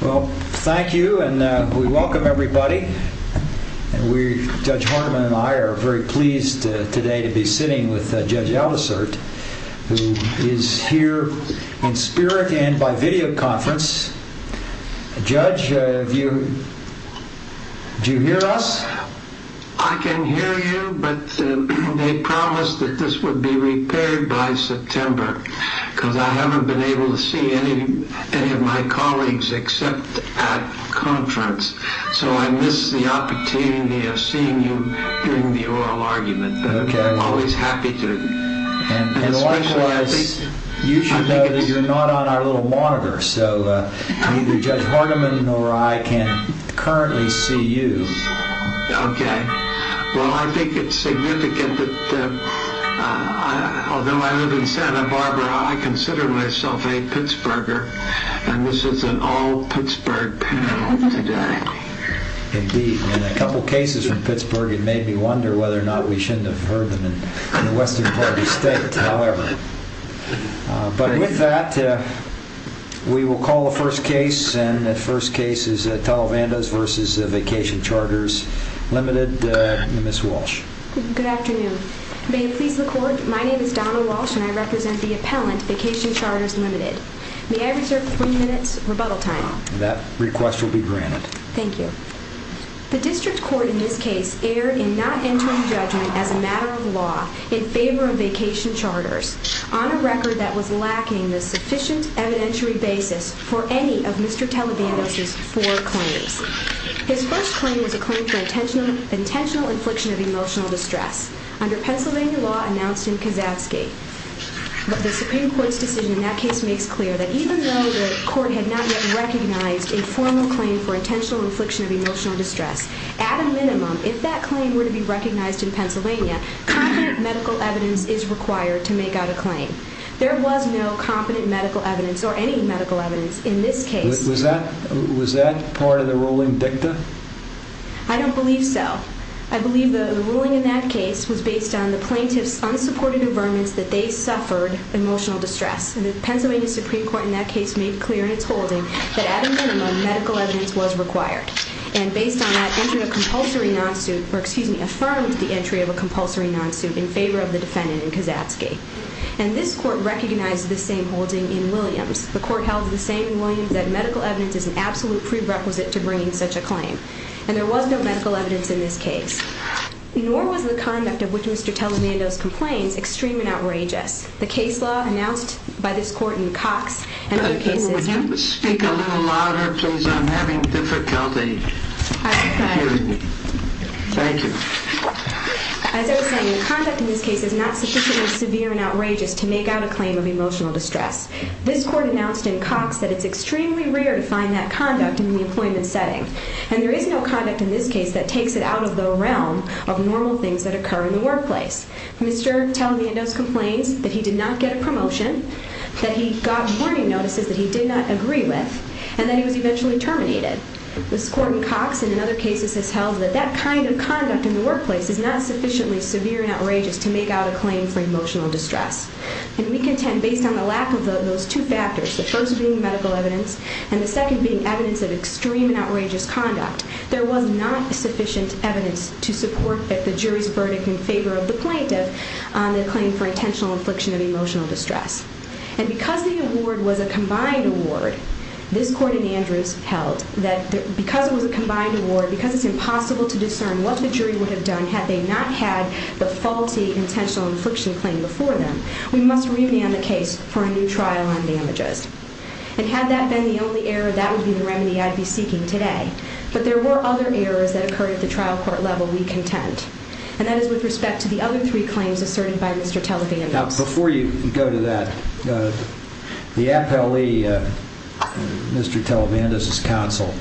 Well, thank you and we welcome everybody. Judge Horniman and I are very pleased today to be sitting with Judge Aldisert, who is here in spirit and by video conference. Judge, do you hear us? I can hear you, but they promised that this would be repaired by September because I haven't been able to see any of my colleagues except at conference, so I missed the opportunity of seeing you during the oral argument, but I'm always happy to. And likewise, you should know that you're not on our little monitor, so neither Judge Horniman nor I can currently see you. Okay. Well, I think it's significant that although I live in Santa Barbara, I consider myself a Pittsburgher, and this is an all-Pittsburgh panel today. Indeed, and a couple cases from Pittsburgh, it made me wonder whether or not we shouldn't have heard them in the western part of the state, however. But with that, we will call the first case, and the first case is Televandos v. Vacation Charters, Ltd., Ms. Walsh. Good afternoon. May it please the Court, my name is Donna Walsh and I represent the appellant, Vacation Charters, Ltd. May I reserve three minutes rebuttal time? That request will be granted. Thank you. The district court in this case erred in not entering judgment as a matter of law in favor of Vacation Charters, on a record that was lacking the sufficient evidentiary basis for any of Mr. Televandos' four claims. His first claim was a claim for intentional infliction of emotional distress, under Pennsylvania law announced in Kasatsky. The Supreme Court's decision in that case makes clear that even though the court had not yet recognized a formal claim for intentional infliction of emotional distress, at a minimum, if that claim were to be recognized in Pennsylvania, competent medical evidence is required to make out a claim. There was no competent medical evidence, or any medical evidence in this case. Was that part of the ruling dicta? I don't believe so. I believe the ruling in that case was based on the plaintiff's unsupported affirmance that they suffered emotional distress. And the Pennsylvania Supreme Court in that case made clear in its holding that at a minimum, medical evidence was required. And based on that, entered a compulsory non-suit, or excuse me, affirmed the entry of a compulsory non-suit in favor of the defendant in Kasatsky. And this court recognized this same holding in Williams. The court held the same in Williams that medical evidence is an absolute prerequisite to bringing such a claim. And there was no medical evidence in this case. Nor was the conduct of which Mr. Televandos complains extreme and outrageous. The case law announced by this court in Cox and other cases... Would you speak a little louder, please? I'm having difficulty. I'm sorry. Thank you. As I was saying, the conduct in this case is not sufficiently severe and outrageous to make out a claim of emotional distress. This court announced in Cox that it's extremely rare to find that conduct in the employment setting. And there is no conduct in this case that takes it out of the realm of normal things that occur in the workplace. Mr. Televandos complains that he did not get a promotion, that he got warning notices that he did not agree with, and that he was eventually terminated. This court in Cox and in other cases has held that that kind of conduct in the workplace is not sufficiently severe and outrageous to make out a claim for emotional distress. And we contend, based on the lack of those two factors, the first being medical evidence and the second being evidence of extreme and outrageous conduct, there was not sufficient evidence to support the jury's verdict in favor of the plaintiff on the claim for intentional infliction of emotional distress. And because the award was a combined award, this court in Andrews held that because it was a combined award, because it's impossible to discern what the jury would have done had they not had the faulty intentional infliction claim before them, we must remand the case for a new trial on damages. And had that been the only error, that would be the remedy I'd be seeking today. But there were other errors that occurred at the trial court level we contend. And that is with respect to the other three claims asserted by Mr. Televandos. Now, before you go to that, the appellee, Mr. Televandos' counsel,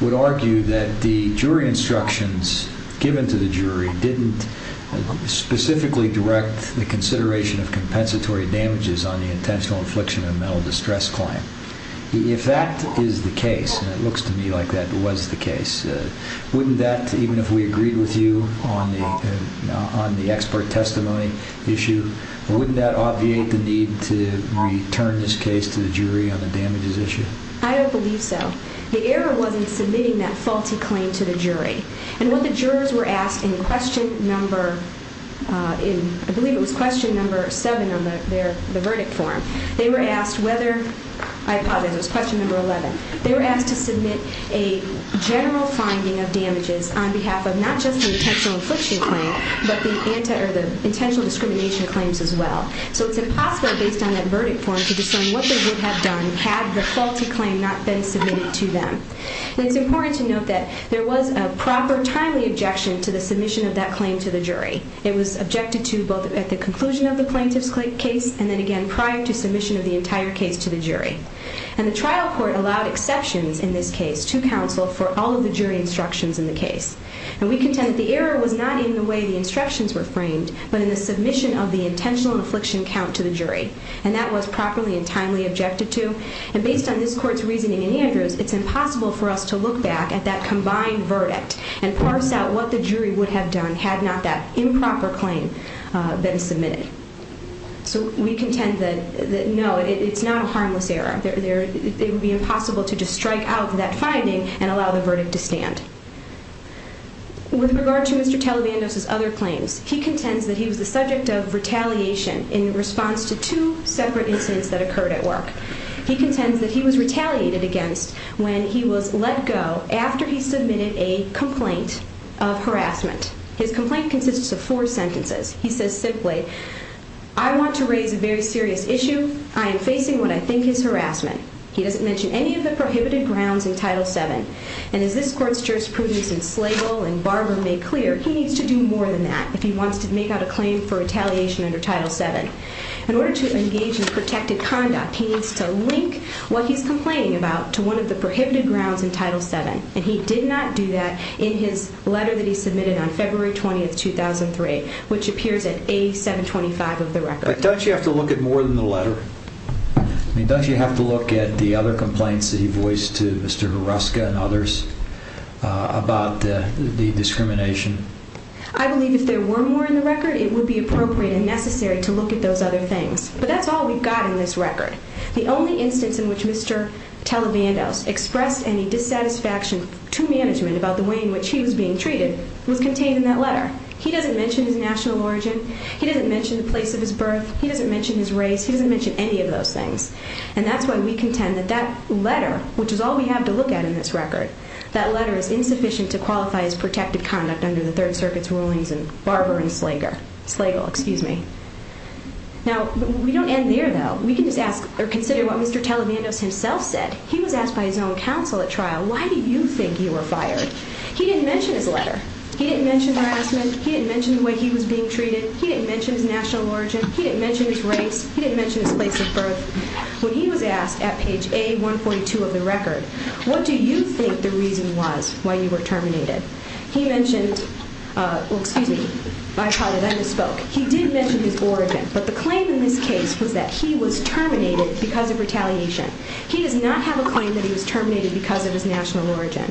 would argue that the jury instructions given to the jury didn't specifically direct the consideration of compensatory damages on the intentional infliction of mental distress claim. If that is the case, and it looks to me like that was the case, wouldn't that, even if we agreed with you on the expert testimony issue, wouldn't that obviate the need to return this case to the jury on the damages issue? I don't believe so. The error was in submitting that faulty claim to the jury. And what the jurors were asked in question number, I believe it was question number 7 on the verdict form, they were asked whether, I apologize, it was question number 11, they were asked to submit a general finding of damages on behalf of not just the intentional infliction claim, but the intentional discrimination claims as well. So it's impossible, based on that verdict form, to discern what they would have done had the faulty claim not been submitted to them. And it's important to note that there was a proper, timely objection to the submission of that claim to the jury. It was objected to both at the conclusion of the plaintiff's case and then again prior to submission of the entire case to the jury. And the trial court allowed exceptions in this case to counsel for all of the jury instructions in the case. And we contend that the error was not in the way the instructions were framed, but in the submission of the intentional infliction count to the jury. And that was properly and timely objected to. And based on this court's reasoning in Andrews, it's impossible for us to look back at that combined verdict and parse out what the jury would have done had not that improper claim been submitted. So we contend that, no, it's not a harmless error. It would be impossible to just strike out that finding and allow the verdict to stand. With regard to Mr. Talibandos' other claims, he contends that he was the subject of retaliation in response to two separate incidents that occurred at work. He contends that he was retaliated against when he was let go after he submitted a complaint of harassment. His complaint consists of four sentences. He says simply, I want to raise a very serious issue. I am facing what I think is harassment. He doesn't mention any of the prohibited grounds in Title VII. And as this court's jurisprudence in Slagle and Barber made clear, he needs to do more than that if he wants to make out a claim for retaliation under Title VII. In order to engage in protected conduct, he needs to link what he's complaining about to one of the prohibited grounds in Title VII. And he did not do that in his letter that he submitted on February 20, 2003, which appears in A725 of the record. But doesn't he have to look at more than the letter? I mean, doesn't he have to look at the other complaints that he voiced to Mr. Hruska and others about the discrimination? I believe if there were more in the record, it would be appropriate and necessary to look at those other things. But that's all we've got in this record. The only instance in which Mr. Talibandos expressed any dissatisfaction to management about the way in which he was being treated was contained in that letter. He doesn't mention his national origin. He doesn't mention the place of his birth. He doesn't mention his race. He doesn't mention any of those things. And that's why we contend that that letter, which is all we have to look at in this record, that letter is insufficient to qualify as protected conduct under the Third Circuit's rulings in Barber and Slagle. Now, we don't end there, though. We can just ask or consider what Mr. Talibandos himself said. He was asked by his own counsel at trial, why do you think you were fired? He didn't mention his letter. He didn't mention harassment. He didn't mention the way he was being treated. He didn't mention his national origin. He didn't mention his race. He didn't mention his place of birth. When he was asked at page A-142 of the record, what do you think the reason was why you were terminated? He mentioned his origin, but the claim in this case was that he was terminated because of retaliation. He does not have a claim that he was terminated because of his national origin.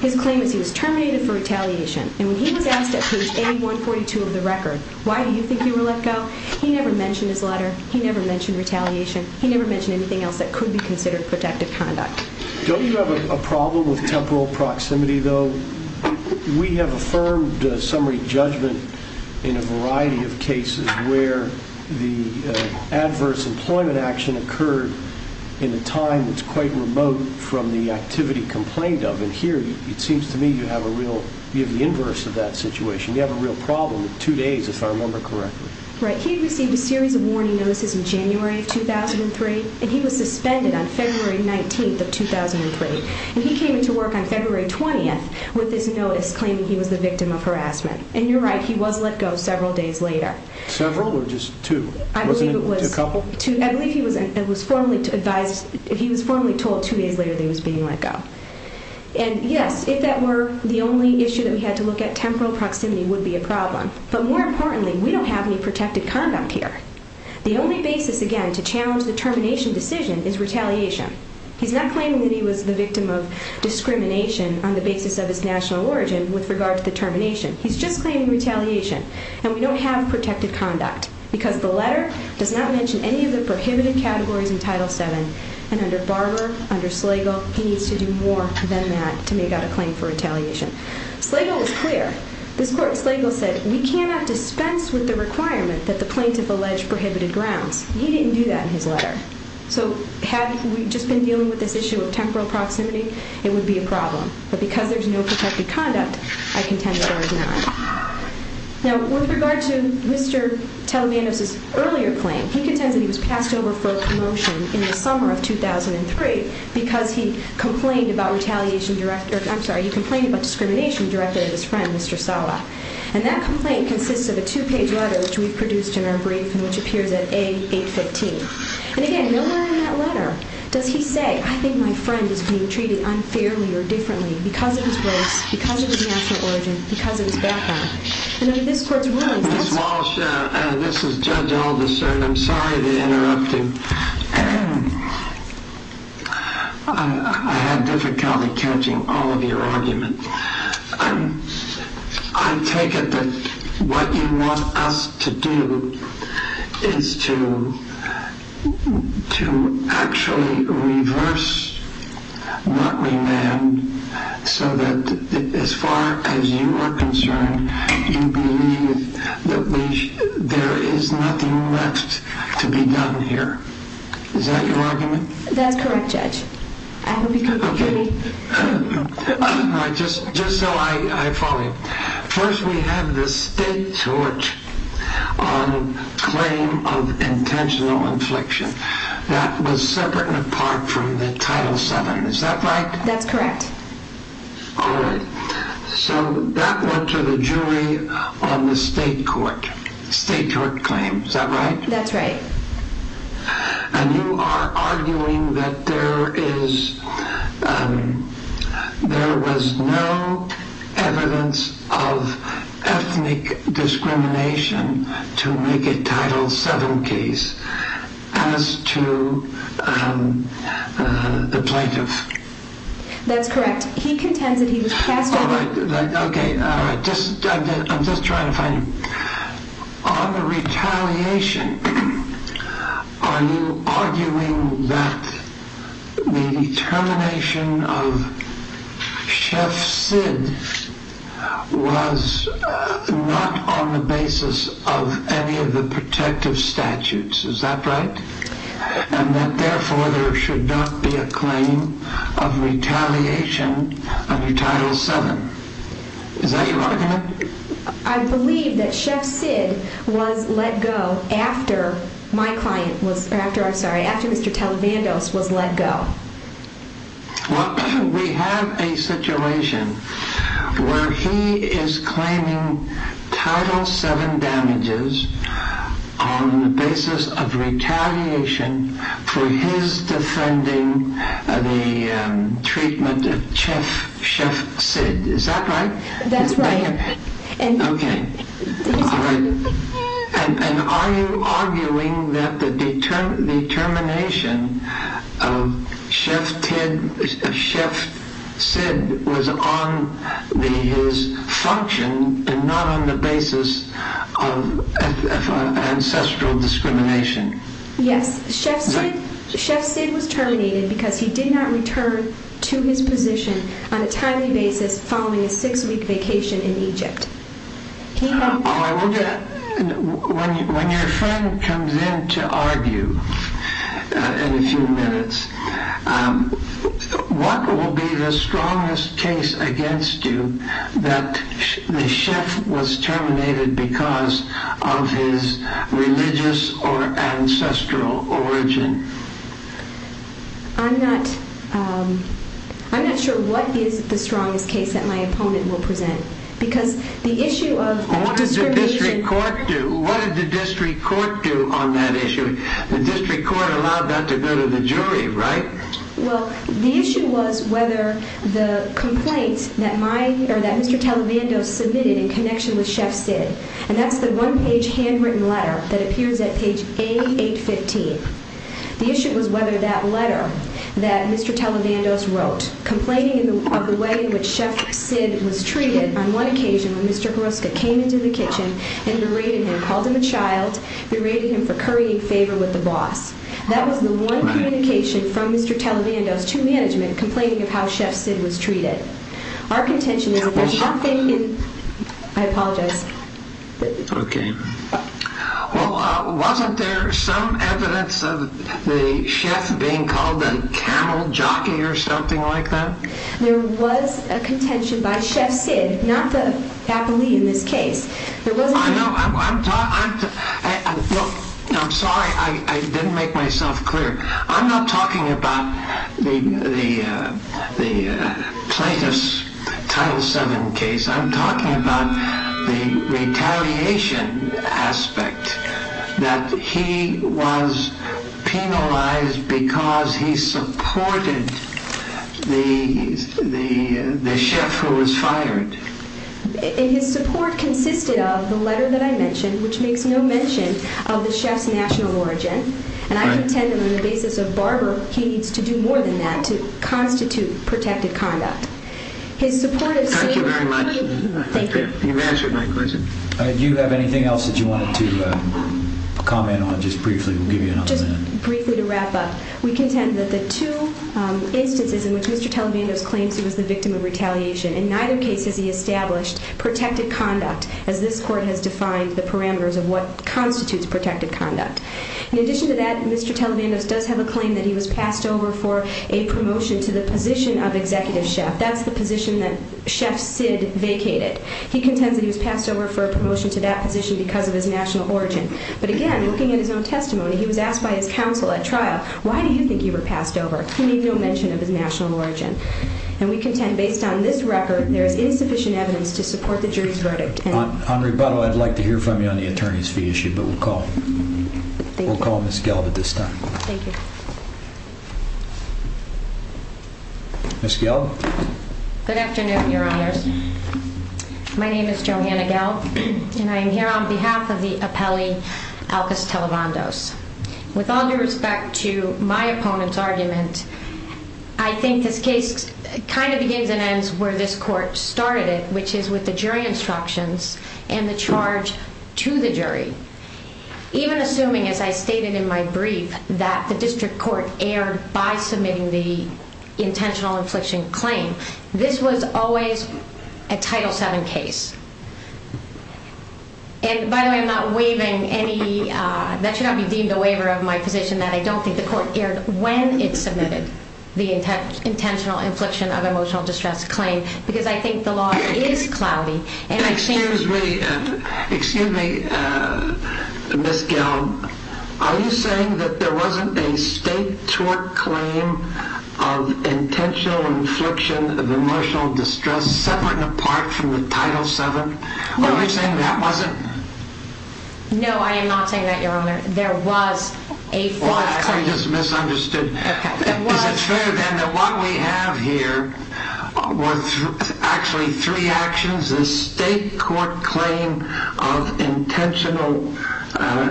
His claim is he was terminated for retaliation. And when he was asked at page A-142 of the record, why do you think you were let go? He never mentioned his letter. He never mentioned retaliation. He never mentioned anything else that could be considered protected conduct. Don't you have a problem with temporal proximity, though? We have affirmed summary judgment in a variety of cases where the adverse employment action occurred in a time that's quite remote from the activity complained of. And here it seems to me you have the inverse of that situation. You have a real problem with two days, if I remember correctly. Right. He received a series of warning notices in January of 2003, and he was suspended on February 19th of 2003. And he came into work on February 20th with this notice claiming he was the victim of harassment. And you're right, he was let go several days later. Several or just two? I believe he was formally told two days later that he was being let go. And, yes, if that were the only issue that we had to look at, temporal proximity would be a problem. But more importantly, we don't have any protected conduct here. The only basis, again, to challenge the termination decision is retaliation. He's not claiming that he was the victim of discrimination on the basis of his national origin with regard to the termination. He's just claiming retaliation. And we don't have protected conduct because the letter does not mention any of the prohibited categories in Title VII. And under Barber, under Slagle, he needs to do more than that to make out a claim for retaliation. Slagle was clear. This court, Slagle said, we cannot dispense with the requirement that the plaintiff allege prohibited grounds. He didn't do that in his letter. So had we just been dealing with this issue of temporal proximity, it would be a problem. But because there's no protected conduct, I contend that ours is not. Now, with regard to Mr. Telemannos' earlier claim, he contends that he was passed over for a commotion in the summer of 2003 because he complained about retaliation director of the – I'm sorry, he complained about discrimination directed at his friend, Mr. Sala. And that complaint consists of a two-page letter which we've produced in our brief and which appears at A815. And again, nowhere in that letter does he say, I think my friend is being treated unfairly or differently because of his race, because of his national origin, because of his background. And under this court's rulings – Ms. Walsh, this is Judge Alderson. I'm sorry to interrupt you. I had difficulty catching all of your arguments. I take it that what you want us to do is to actually reverse, not remand, so that as far as you are concerned, you believe that there is nothing left to be done here. Is that your argument? That's correct, Judge. I hope you can hear me. Just so I follow you. First, we have the state court on claim of intentional infliction. That was separate and apart from the Title VII. Is that right? That's correct. All right. So that went to the jury on the state court, state court claim. Is that right? That's right. And you are arguing that there is – there was no evidence of ethnic discrimination to make a Title VII case as to the plaintiff. That's correct. He contends that he was cast – All right. Okay. All right. I'm just trying to find – On the retaliation, are you arguing that the termination of Chef Sid was not on the basis of any of the protective statutes? Is that right? And that, therefore, there should not be a claim of retaliation under Title VII. Is that your argument? I believe that Chef Sid was let go after my client was – or after, I'm sorry, after Mr. Televandos was let go. Well, we have a situation where he is claiming Title VII damages on the basis of retaliation for his defending the treatment of Chef Sid. Is that right? That's right. Okay. And are you arguing that the termination of Chef Sid was on his function and not on the basis of ancestral discrimination? Yes. Chef Sid was terminated because he did not return to his position on a timely basis following a six-week vacation in Egypt. When your friend comes in to argue in a few minutes, what will be the strongest case against you that the chef was terminated because of his religious or ancestral origin? I'm not sure what is the strongest case that my opponent will present because the issue of discrimination – Well, what did the district court do? What did the district court do on that issue? The district court allowed that to go to the jury, right? Well, the issue was whether the complaint that my – or that Mr. Televandos submitted in connection with Chef Sid, and that's the one-page handwritten letter that appears at page 8815. The issue was whether that letter that Mr. Televandos wrote complaining of the way in which Chef Sid was treated on one occasion when Mr. Hruska came into the kitchen and berated him, called him a child, berated him for currying favor with the boss. That was the one communication from Mr. Televandos to management complaining of how Chef Sid was treated. Our contention is that there's nothing in – I apologize. Okay. Well, wasn't there some evidence of the chef being called a camel jockey or something like that? There was a contention by Chef Sid, not the faculty in this case. I know. I'm sorry. I didn't make myself clear. I'm not talking about the plaintiff's Title VII case. I'm talking about the retaliation aspect, that he was penalized because he supported the chef who was fired. His support consisted of the letter that I mentioned, which makes no mention of the chef's national origin. And I contend that on the basis of barber, he needs to do more than that to constitute protected conduct. Thank you very much. Thank you. You've answered my question. Do you have anything else that you wanted to comment on just briefly? We'll give you another minute. Just briefly to wrap up, we contend that the two instances in which Mr. Televandos claims he was the victim of retaliation, in neither case has he established protected conduct, as this court has defined the parameters of what constitutes protected conduct. In addition to that, Mr. Televandos does have a claim that he was passed over for a promotion to the position of executive chef. That's the position that Chef Sid vacated. He contends that he was passed over for a promotion to that position because of his national origin. But again, looking at his own testimony, he was asked by his counsel at trial, why do you think you were passed over? He made no mention of his national origin. And we contend, based on this record, there is insufficient evidence to support the jury's verdict. On rebuttal, I'd like to hear from you on the attorney's fee issue, but we'll call Ms. Gelb at this time. Thank you. Ms. Gelb? Good afternoon, Your Honors. My name is Johanna Gelb, and I am here on behalf of the appellee, Alcas Televandos. With all due respect to my opponent's argument, I think this case kind of begins and ends where this court started it, which is with the jury instructions and the charge to the jury. Even assuming, as I stated in my brief, that the district court erred by submitting the intentional infliction claim, this was always a Title VII case. And by the way, I'm not waiving any – that should not be deemed a waiver of my position, that I don't think the court erred when it submitted the intentional infliction of emotional distress claim because I think the law is cloudy. Excuse me. Excuse me, Ms. Gelb. Are you saying that there wasn't a state tort claim of intentional infliction of emotional distress separate and apart from the Title VII? Are you saying that wasn't? No, I am not saying that, Your Honor. There was a fraud claim. Well, I just misunderstood. Is it fair then that what we have here were actually three actions, the state court claim of intentional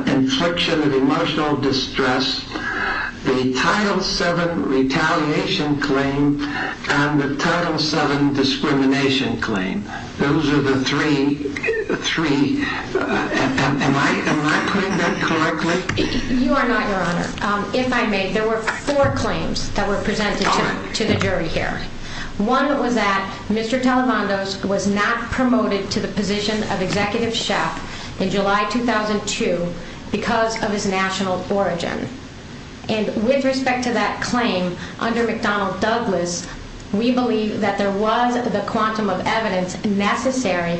infliction of emotional distress, the Title VII retaliation claim, and the Title VII discrimination claim. Those are the three. Am I putting that correctly? You are not, Your Honor. If I may, there were four claims that were presented to the jury here. One was that Mr. Talavandos was not promoted to the position of executive chef in July 2002 because of his national origin. And with respect to that claim, under McDonnell Douglas, we believe that there was the quantum of evidence necessary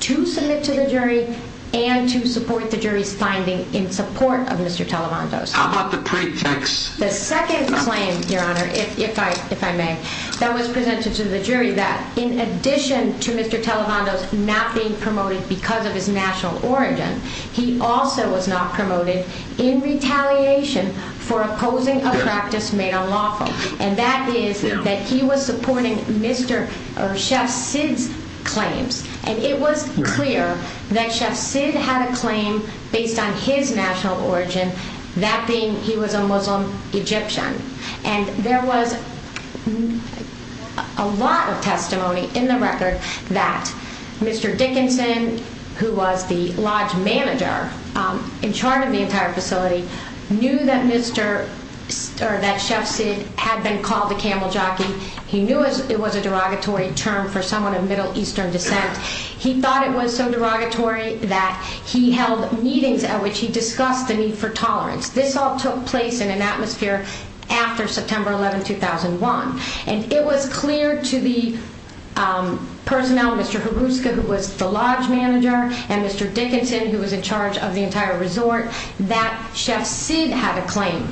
to submit to the jury and to support the jury's finding in support of Mr. Talavandos. How about the pretext? The second claim, Your Honor, if I may, that was presented to the jury that in addition to Mr. Talavandos not being promoted because of his national origin, he also was not promoted in retaliation for opposing a practice made unlawful, and that is that he was supporting Chef Sid's claims. And it was clear that Chef Sid had a claim based on his national origin, that being he was a Muslim Egyptian. And there was a lot of testimony in the record that Mr. Dickinson, who was the lodge manager in charge of the entire facility, knew that Chef Sid had been called a camel jockey. He knew it was a derogatory term for someone of Middle Eastern descent. He thought it was so derogatory that he held meetings at which he discussed the need for tolerance. This all took place in an atmosphere after September 11, 2001. And it was clear to the personnel, Mr. Hruska, who was the lodge manager, and Mr. Dickinson, who was in charge of the entire resort, that Chef Sid had a claim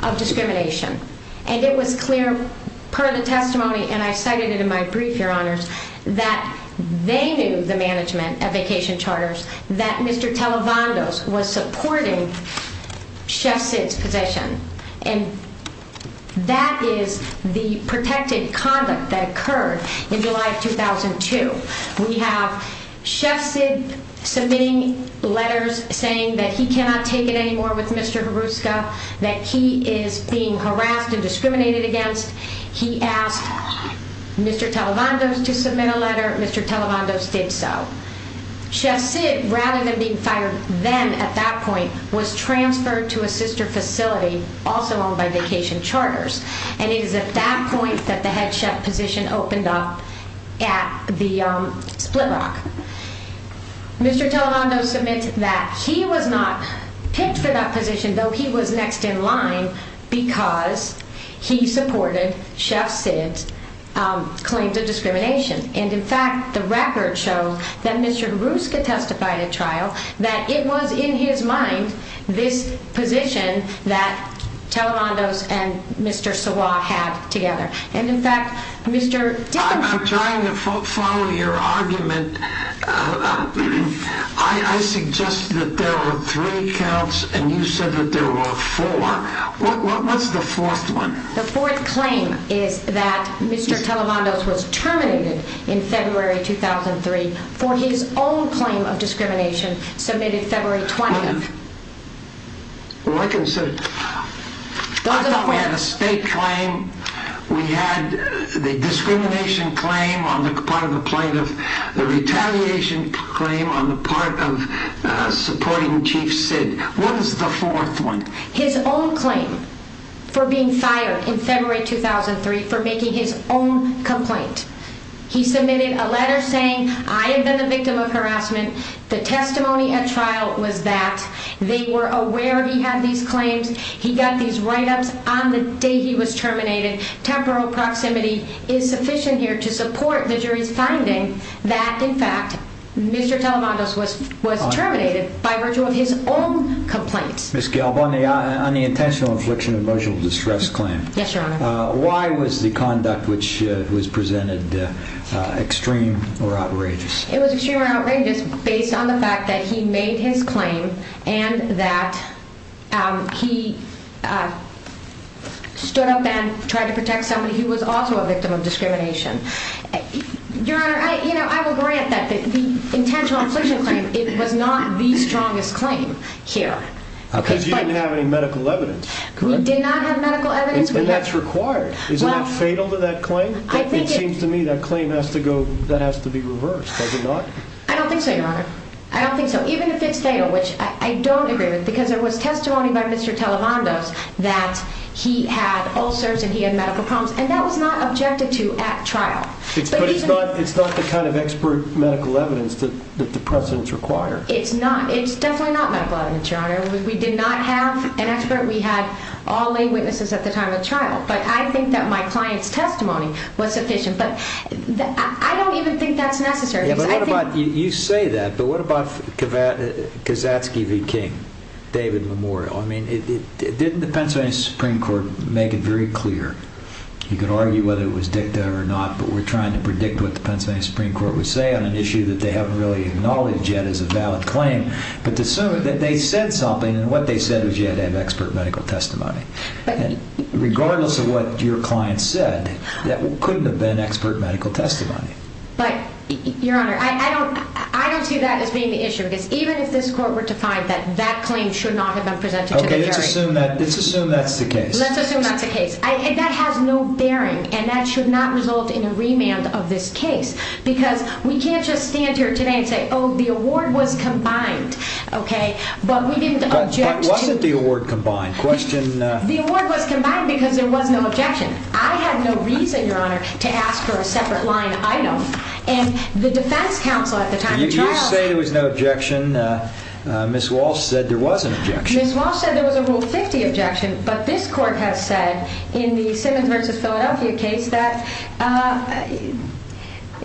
of discrimination. And it was clear, per the testimony, and I cited it in my brief, Your Honors, that they knew the management of Vacation Charters, that Mr. Televantos was supporting Chef Sid's position. And that is the protected conduct that occurred in July of 2002. We have Chef Sid submitting letters saying that he cannot take it anymore with Mr. Hruska, that he is being harassed and discriminated against. He asked Mr. Televantos to submit a letter. Mr. Televantos did so. Chef Sid, rather than being fired then at that point, was transferred to a sister facility also owned by Vacation Charters. And it is at that point that the head chef position opened up at the Split Rock. Mr. Televantos submitted that he was not picked for that position, though he was next in line because he supported Chef Sid's claim to discrimination. And, in fact, the record shows that Mr. Hruska testified at trial, that it was in his mind this position that Televantos and Mr. Sawa had together. And, in fact, Mr. Dickinson... I'm trying to follow your argument. I suggest that there were three counts and you said that there were four. What's the fourth one? The fourth claim is that Mr. Televantos was terminated in February 2003 for his own claim of discrimination submitted February 20th. Well, I can say... I thought we had a state claim. We had the discrimination claim on the part of the plaintiff, the retaliation claim on the part of supporting Chief Sid. What is the fourth one? His own claim for being fired in February 2003 for making his own complaint. He submitted a letter saying, I have been the victim of harassment. The testimony at trial was that. They were aware he had these claims. He got these write-ups on the day he was terminated. Temporal proximity is sufficient here to support the jury's finding that, in fact, Mr. Televantos was terminated by virtue of his own complaints. Ms. Gelb, on the intentional infliction of emotional distress claim... Yes, Your Honor. Why was the conduct which was presented extreme or outrageous? It was extreme or outrageous based on the fact that he made his claim and that he stood up and tried to protect somebody who was also a victim of discrimination. Your Honor, I will grant that the intentional infliction claim was not the strongest claim here. Because you didn't have any medical evidence. We did not have medical evidence. And that's required. Isn't that fatal to that claim? It seems to me that claim has to be reversed, does it not? I don't think so, Your Honor. I don't think so. Even if it's fatal, which I don't agree with, because there was testimony by Mr. Televantos that he had ulcers and he had medical problems, and that was not objected to at trial. But it's not the kind of expert medical evidence that the precedents require. It's not. It's definitely not medical evidence, Your Honor. We did not have an expert. We had all lay witnesses at the time of the trial. But I think that my client's testimony was sufficient. But I don't even think that's necessary. You say that, but what about Kazatsky v. King, David Memorial? Didn't the Pennsylvania Supreme Court make it very clear? You could argue whether it was dicta or not, but we're trying to predict what the Pennsylvania Supreme Court would say on an issue that they haven't really acknowledged yet as a valid claim. But they said something, and what they said was you had to have expert medical testimony. Regardless of what your client said, that couldn't have been expert medical testimony. But, Your Honor, I don't see that as being the issue, because even if this court were to find that that claim should not have been presented to the jury. Okay, let's assume that's the case. Let's assume that's the case. That has no bearing, and that should not result in a remand of this case, because we can't just stand here today and say, oh, the award was combined, okay? But we didn't object to it. But wasn't the award combined? The award was combined because there was no objection. I had no reason, Your Honor, to ask for a separate line. I know. And the defense counsel at the time of the trial. You say there was no objection. Ms. Walsh said there was an objection. Ms. Walsh said there was a Rule 50 objection, but this court has said in the Simmons v. Philadelphia case that,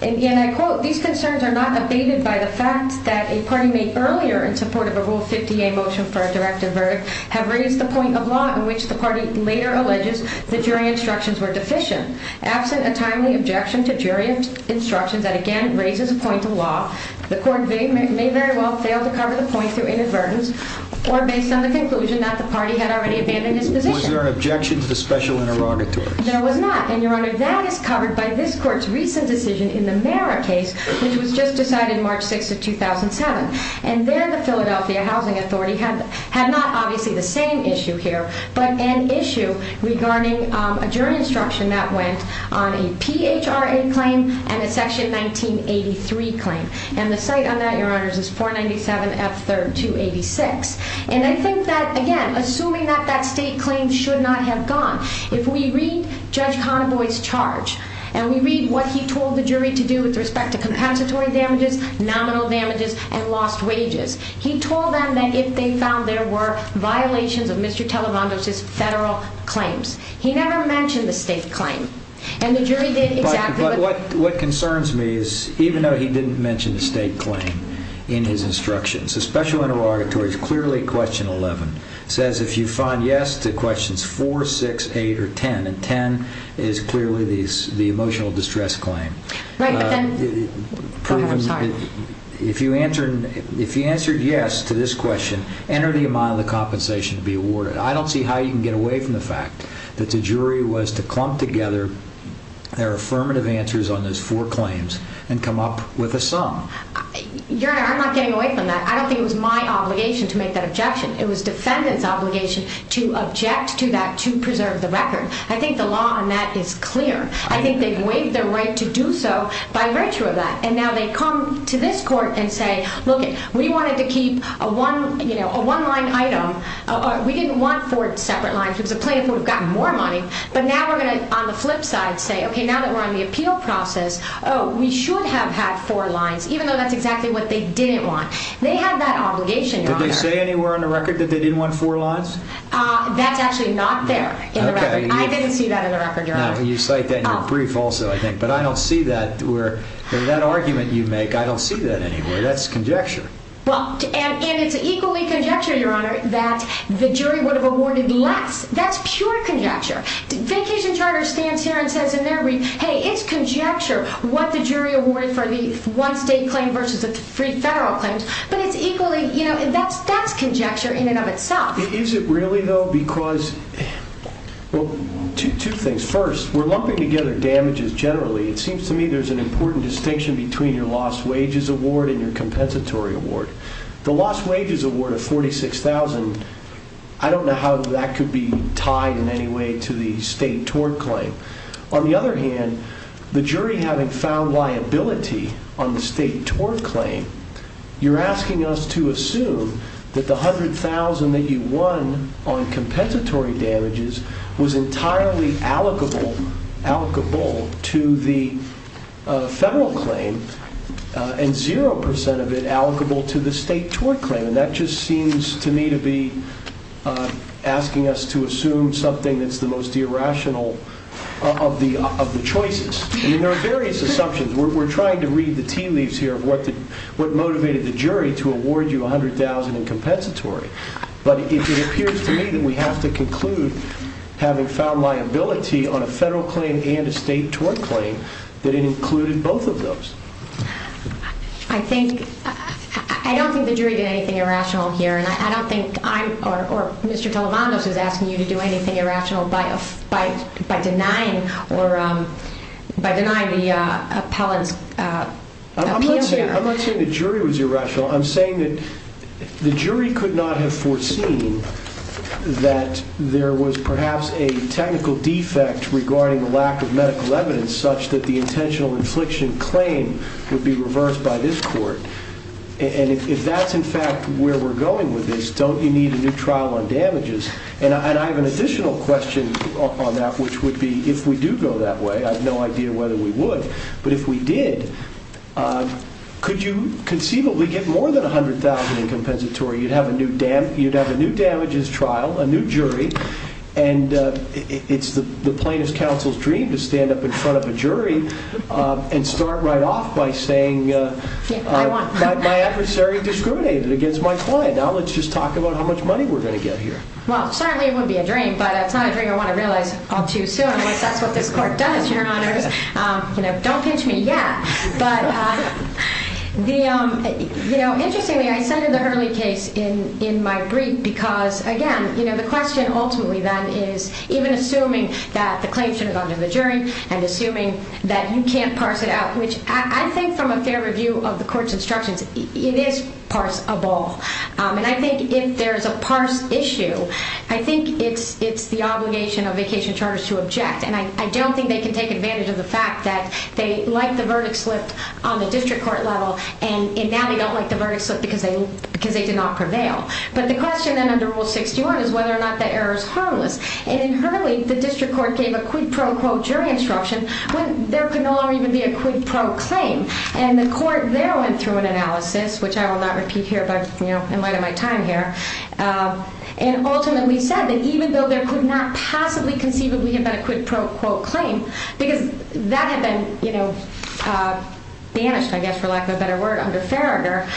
and I quote, these concerns are not abated by the fact that a party made earlier in support of a Rule 50A motion for a directive verdict have raised the point of law in which the party later alleges the jury instructions were deficient. Absent a timely objection to jury instructions that, again, raises a point of law, the court may very well fail to cover the point through inadvertence or based on the conclusion that the party had already abandoned its position. Was there an objection to the special interrogatory? There was not. And, Your Honor, that is covered by this court's recent decision in the Marra case, which was just decided March 6th of 2007. And then the Philadelphia Housing Authority had not obviously the same issue here, but an issue regarding a jury instruction that went on a PHRA claim and a Section 1983 claim. And the cite on that, Your Honors, is 497F3R286. And I think that, again, assuming that that state claim should not have gone, if we read Judge Conaboy's charge and we read what he told the jury to do with respect to compensatory damages, nominal damages, and lost wages, he told them that if they found there were violations of Mr. Talamando's federal claims. He never mentioned the state claim. And the jury did exactly what... But what concerns me is even though he didn't mention the state claim in his instructions, the special interrogatory is clearly question 11. It says if you find yes to questions 4, 6, 8, or 10. And 10 is clearly the emotional distress claim. Right, but then... Go ahead. I'm sorry. If you answered yes to this question, enter the amount of the compensation to be awarded. I don't see how you can get away from the fact that the jury was to clump together their affirmative answers on those four claims and come up with a sum. Your Honor, I'm not getting away from that. I don't think it was my obligation to make that objection. It was defendant's obligation to object to that to preserve the record. I think the law on that is clear. I think they've waived their right to do so by virtue of that. And now they come to this court and say, look, we wanted to keep a one-line item. We didn't want four separate lines. It was a plaintiff who would have gotten more money. But now we're going to, on the flip side, say, okay, now that we're on the appeal process, we should have had four lines, even though that's exactly what they didn't want. They had that obligation, Your Honor. Did they say anywhere on the record that they didn't want four lines? That's actually not there in the record. I didn't see that in the record, Your Honor. You cite that in your brief also, I think. But I don't see that where that argument you make, I don't see that anywhere. That's conjecture. Well, and it's equally conjecture, Your Honor, that the jury would have awarded less. That's pure conjecture. Vacation Charter stands here and says in their brief, hey, it's conjecture what the jury awarded for the one-state claim versus the three federal claims. But it's equally, you know, that's conjecture in and of itself. Is it really, though? No, because, well, two things. First, we're lumping together damages generally. It seems to me there's an important distinction between your lost wages award and your compensatory award. The lost wages award of $46,000, I don't know how that could be tied in any way to the state tort claim. On the other hand, the jury having found liability on the state tort claim, you're asking us to assume that the $100,000 that you won on compensatory damages was entirely allocable to the federal claim and 0% of it allocable to the state tort claim. And that just seems to me to be asking us to assume something that's the most irrational of the choices. I mean, there are various assumptions. We're trying to read the tea leaves here of what motivated the jury to award you $100,000 in compensatory. But it appears to me that we have to conclude, having found liability on a federal claim and a state tort claim, that it included both of those. I don't think the jury did anything irrational here. And I don't think I or Mr. Televandos is asking you to do anything irrational by denying the appellant's appeal here. I'm not saying the jury was irrational. I'm saying that the jury could not have foreseen that there was perhaps a technical defect regarding the lack of medical evidence such that the intentional infliction claim would be reversed by this court. And if that's, in fact, where we're going with this, don't you need a new trial on damages? And I have an additional question on that, which would be, if we do go that way, I have no idea whether we would, but if we did, could you conceivably get more than $100,000 in compensatory? You'd have a new damages trial, a new jury, and it's the plaintiff's counsel's dream to stand up in front of a jury and start right off by saying, my adversary discriminated against my client. Now let's just talk about how much money we're going to get here. Well, certainly it wouldn't be a dream, but it's not a dream I want to realize all too soon, unless that's what this court does, Your Honors. Don't pinch me yet. But interestingly, I cited the Hurley case in my brief because, again, the question ultimately then is, even assuming that the claim should have gone to the jury and assuming that you can't parse it out, which I think from a fair review of the court's instructions, it is parse-able. And I think if there's a parse issue, I think it's the obligation of vacation charters to object. And I don't think they can take advantage of the fact that they like the verdict slipped on the district court level, and now they don't like the verdict slipped because they did not prevail. But the question then under Rule 61 is whether or not that error is harmless. And in Hurley, the district court gave a quid pro quo jury instruction when there could no longer even be a quid pro claim. And the court there went through an analysis, which I will not repeat here in light of my time here, and ultimately said that even though there could not possibly conceivably have been a quid pro quo claim, because that had been banished, I guess, for lack of a better word, under Farringer,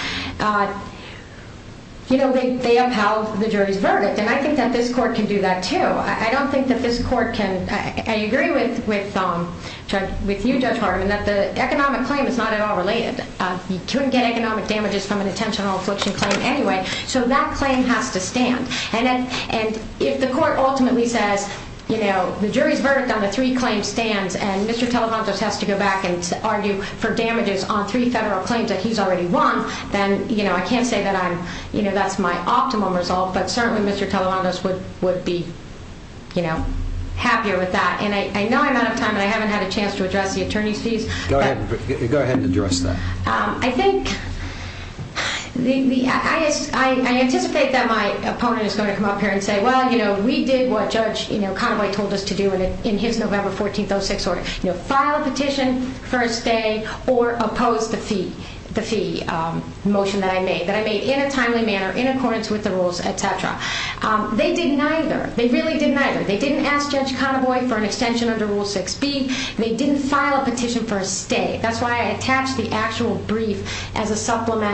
you know, they upheld the jury's verdict. And I think that this court can do that, too. I don't think that this court can. I agree with you, Judge Harmon, that the economic claim is not at all related. You couldn't get economic damages from an intentional infliction claim anyway. So that claim has to stand. And if the court ultimately says, you know, the jury's verdict on the three claims stands, and Mr. Televantos has to go back and argue for damages on three federal claims that he's already won, then, you know, I can't say that I'm, you know, that's my optimum result. But certainly Mr. Televantos would be, you know, happier with that. And I know I'm out of time, but I haven't had a chance to address the attorney's fees. Go ahead. Go ahead and address that. I think the, I anticipate that my opponent is going to come up here and say, well, you know, we did what Judge Canaboy told us to do in his November 14th 06 order, you know, file a petition for a stay or oppose the fee motion that I made, that I made in a timely manner in accordance with the rules, et cetera. They didn't either. They really didn't either. They didn't ask Judge Canaboy for an extension under Rule 6B. They didn't file a petition for a stay. That's why I attached the actual brief as a supplemental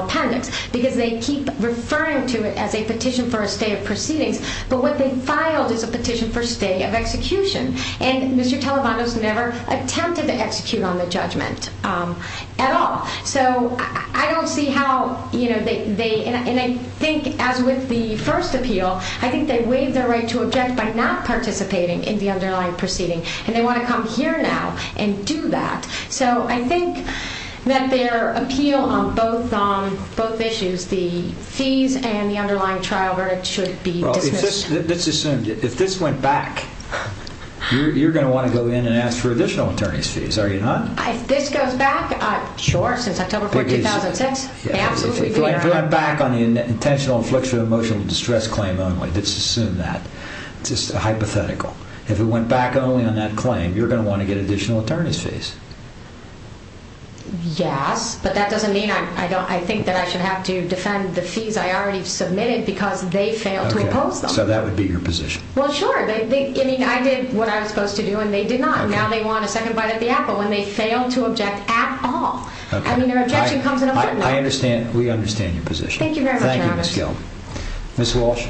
appendix, because they keep referring to it as a petition for a stay of proceedings. But what they filed is a petition for stay of execution. And Mr. Televantos never attempted to execute on the judgment at all. So I don't see how, you know, they, and I think as with the first appeal, I think they waived their right to object by not participating in the underlying proceeding. And they want to come here now and do that. So I think that their appeal on both issues, the fees and the underlying trial verdict should be dismissed. Well, let's assume if this went back, you're going to want to go in and ask for additional attorney's fees, are you not? If this goes back, sure, since October 4, 2006, absolutely. If it went back on the intentional infliction of emotional distress claim only, let's assume that, just a hypothetical. If it went back only on that claim, you're going to want to get additional attorney's fees. Yes, but that doesn't mean I think that I should have to defend the fees I already submitted because they failed to impose them. So that would be your position. Well, sure. I mean, I did what I was supposed to do, and they did not. Now they want a second bite at the apple, and they failed to object at all. I mean, their objection comes in a footnote. I understand. We understand your position. Thank you very much, Your Honor. Thank you, Ms. Gill. Ms. Walsh.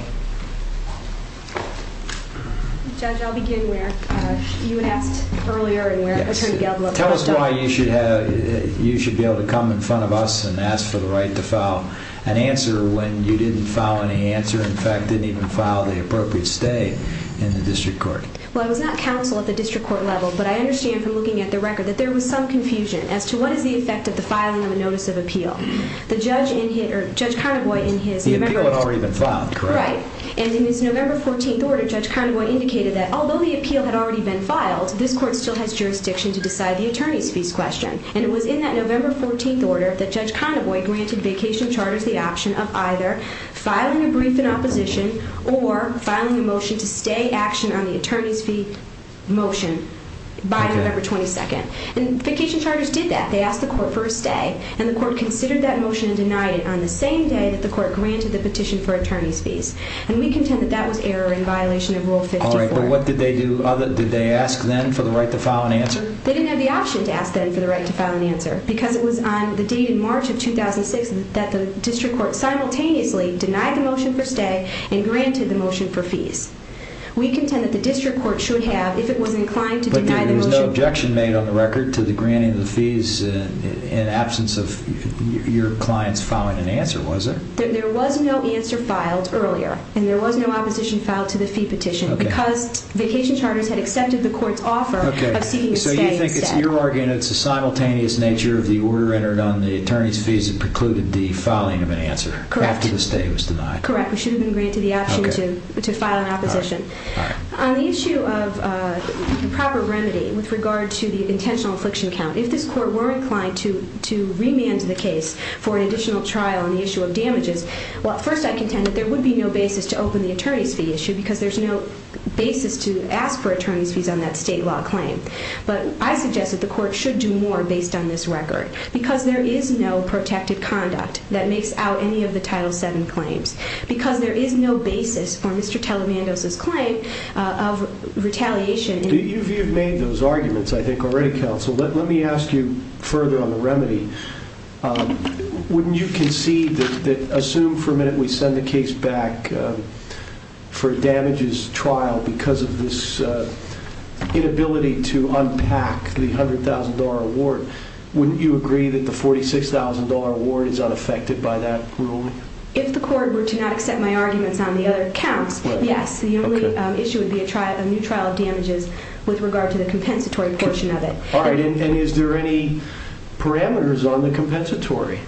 Judge, I'll begin where you had asked earlier and where Attorney Gable had asked. Tell us why you should be able to come in front of us and ask for the right to file an answer when you didn't file any answer, in fact, didn't even file the appropriate stay in the district court. Well, I was not counsel at the district court level, but I understand from looking at the record that there was some confusion as to what is the effect of the filing of a notice of appeal. The judge in his, or Judge Carnegoy in his, The appeal had already been filed, correct? Correct. And in his November 14th order, Judge Carnegoy indicated that, although the appeal had already been filed, this court still has jurisdiction to decide the attorney's fees question. And it was in that November 14th order that Judge Carnegoy granted vacation charters the option of either filing a brief in opposition or filing a motion to stay action on the attorney's fee motion by November 22nd. And vacation charters did that. They asked the court for a stay, and the court considered that motion and denied it on the same day that the court granted the petition for attorney's fees. And we contend that that was error in violation of Rule 54. All right, but what did they do? Did they ask then for the right to file an answer? They didn't have the option to ask then for the right to file an answer because it was on the date in March of 2006 that the district court simultaneously denied the motion for stay and granted the motion for fees. We contend that the district court should have, if it was inclined to deny the motion, But there was no objection made on the record to the granting of the fees in absence of your client's filing an answer, was there? There was no answer filed earlier, and there was no opposition filed to the fee petition because vacation charters had accepted the court's offer of seeking a stay instead. So you think it's your argument, it's the simultaneous nature of the order entered on the attorney's fees that precluded the filing of an answer after the stay was denied. Correct. We should have been granted the option to file an opposition. On the issue of the proper remedy with regard to the intentional affliction count, if this court were inclined to remand the case for an additional trial on the issue of damages, well, first I contend that there would be no basis to open the attorney's fee issue because there's no basis to ask for attorney's fees on that state law claim. But I suggest that the court should do more based on this record because there is no protected conduct that makes out any of the Title VII claims. Because there is no basis for Mr. Telemandos' claim of retaliation. You've made those arguments, I think, already, Counsel. Let me ask you further on the remedy. Wouldn't you concede that, assume for a minute we send the case back for damages trial because of this inability to unpack the $100,000 award, wouldn't you agree that the $46,000 award is unaffected by that ruling? If the court were to not accept my arguments on the other counts, yes. The only issue would be a new trial of damages with regard to the compensatory portion of it. All right. And is there any parameters on the compensatory?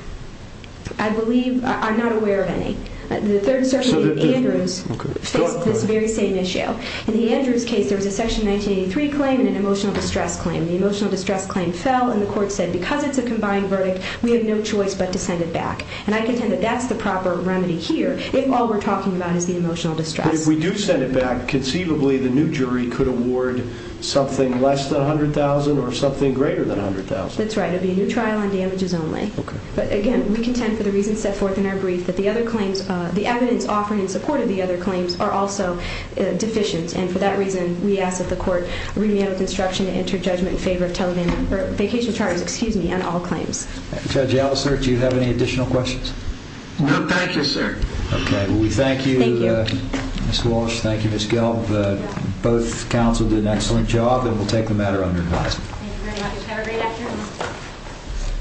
I believe I'm not aware of any. The Third Circuit and Andrews faced this very same issue. In the Andrews case, there was a Section 1983 claim and an emotional distress claim. The emotional distress claim fell, and the court said, because it's a combined verdict, we have no choice but to send it back. And I contend that that's the proper remedy here if all we're talking about is the emotional distress. But if we do send it back, conceivably the new jury could award something less than $100,000 or something greater than $100,000. That's right. It would be a new trial on damages only. Okay. But, again, we contend for the reasons set forth in our brief that the evidence offered in support of the other claims are also deficient. And for that reason, we ask that the court remand with instruction to enter judgment in favor of vacation charges on all claims. Judge Ellis, sir, do you have any additional questions? No, thank you, sir. Okay. Well, we thank you, Ms. Walsh. Thank you, Ms. Gelb. Both counsel did an excellent job, and we'll take the matter under advisement. Thank you very much. Have a great afternoon.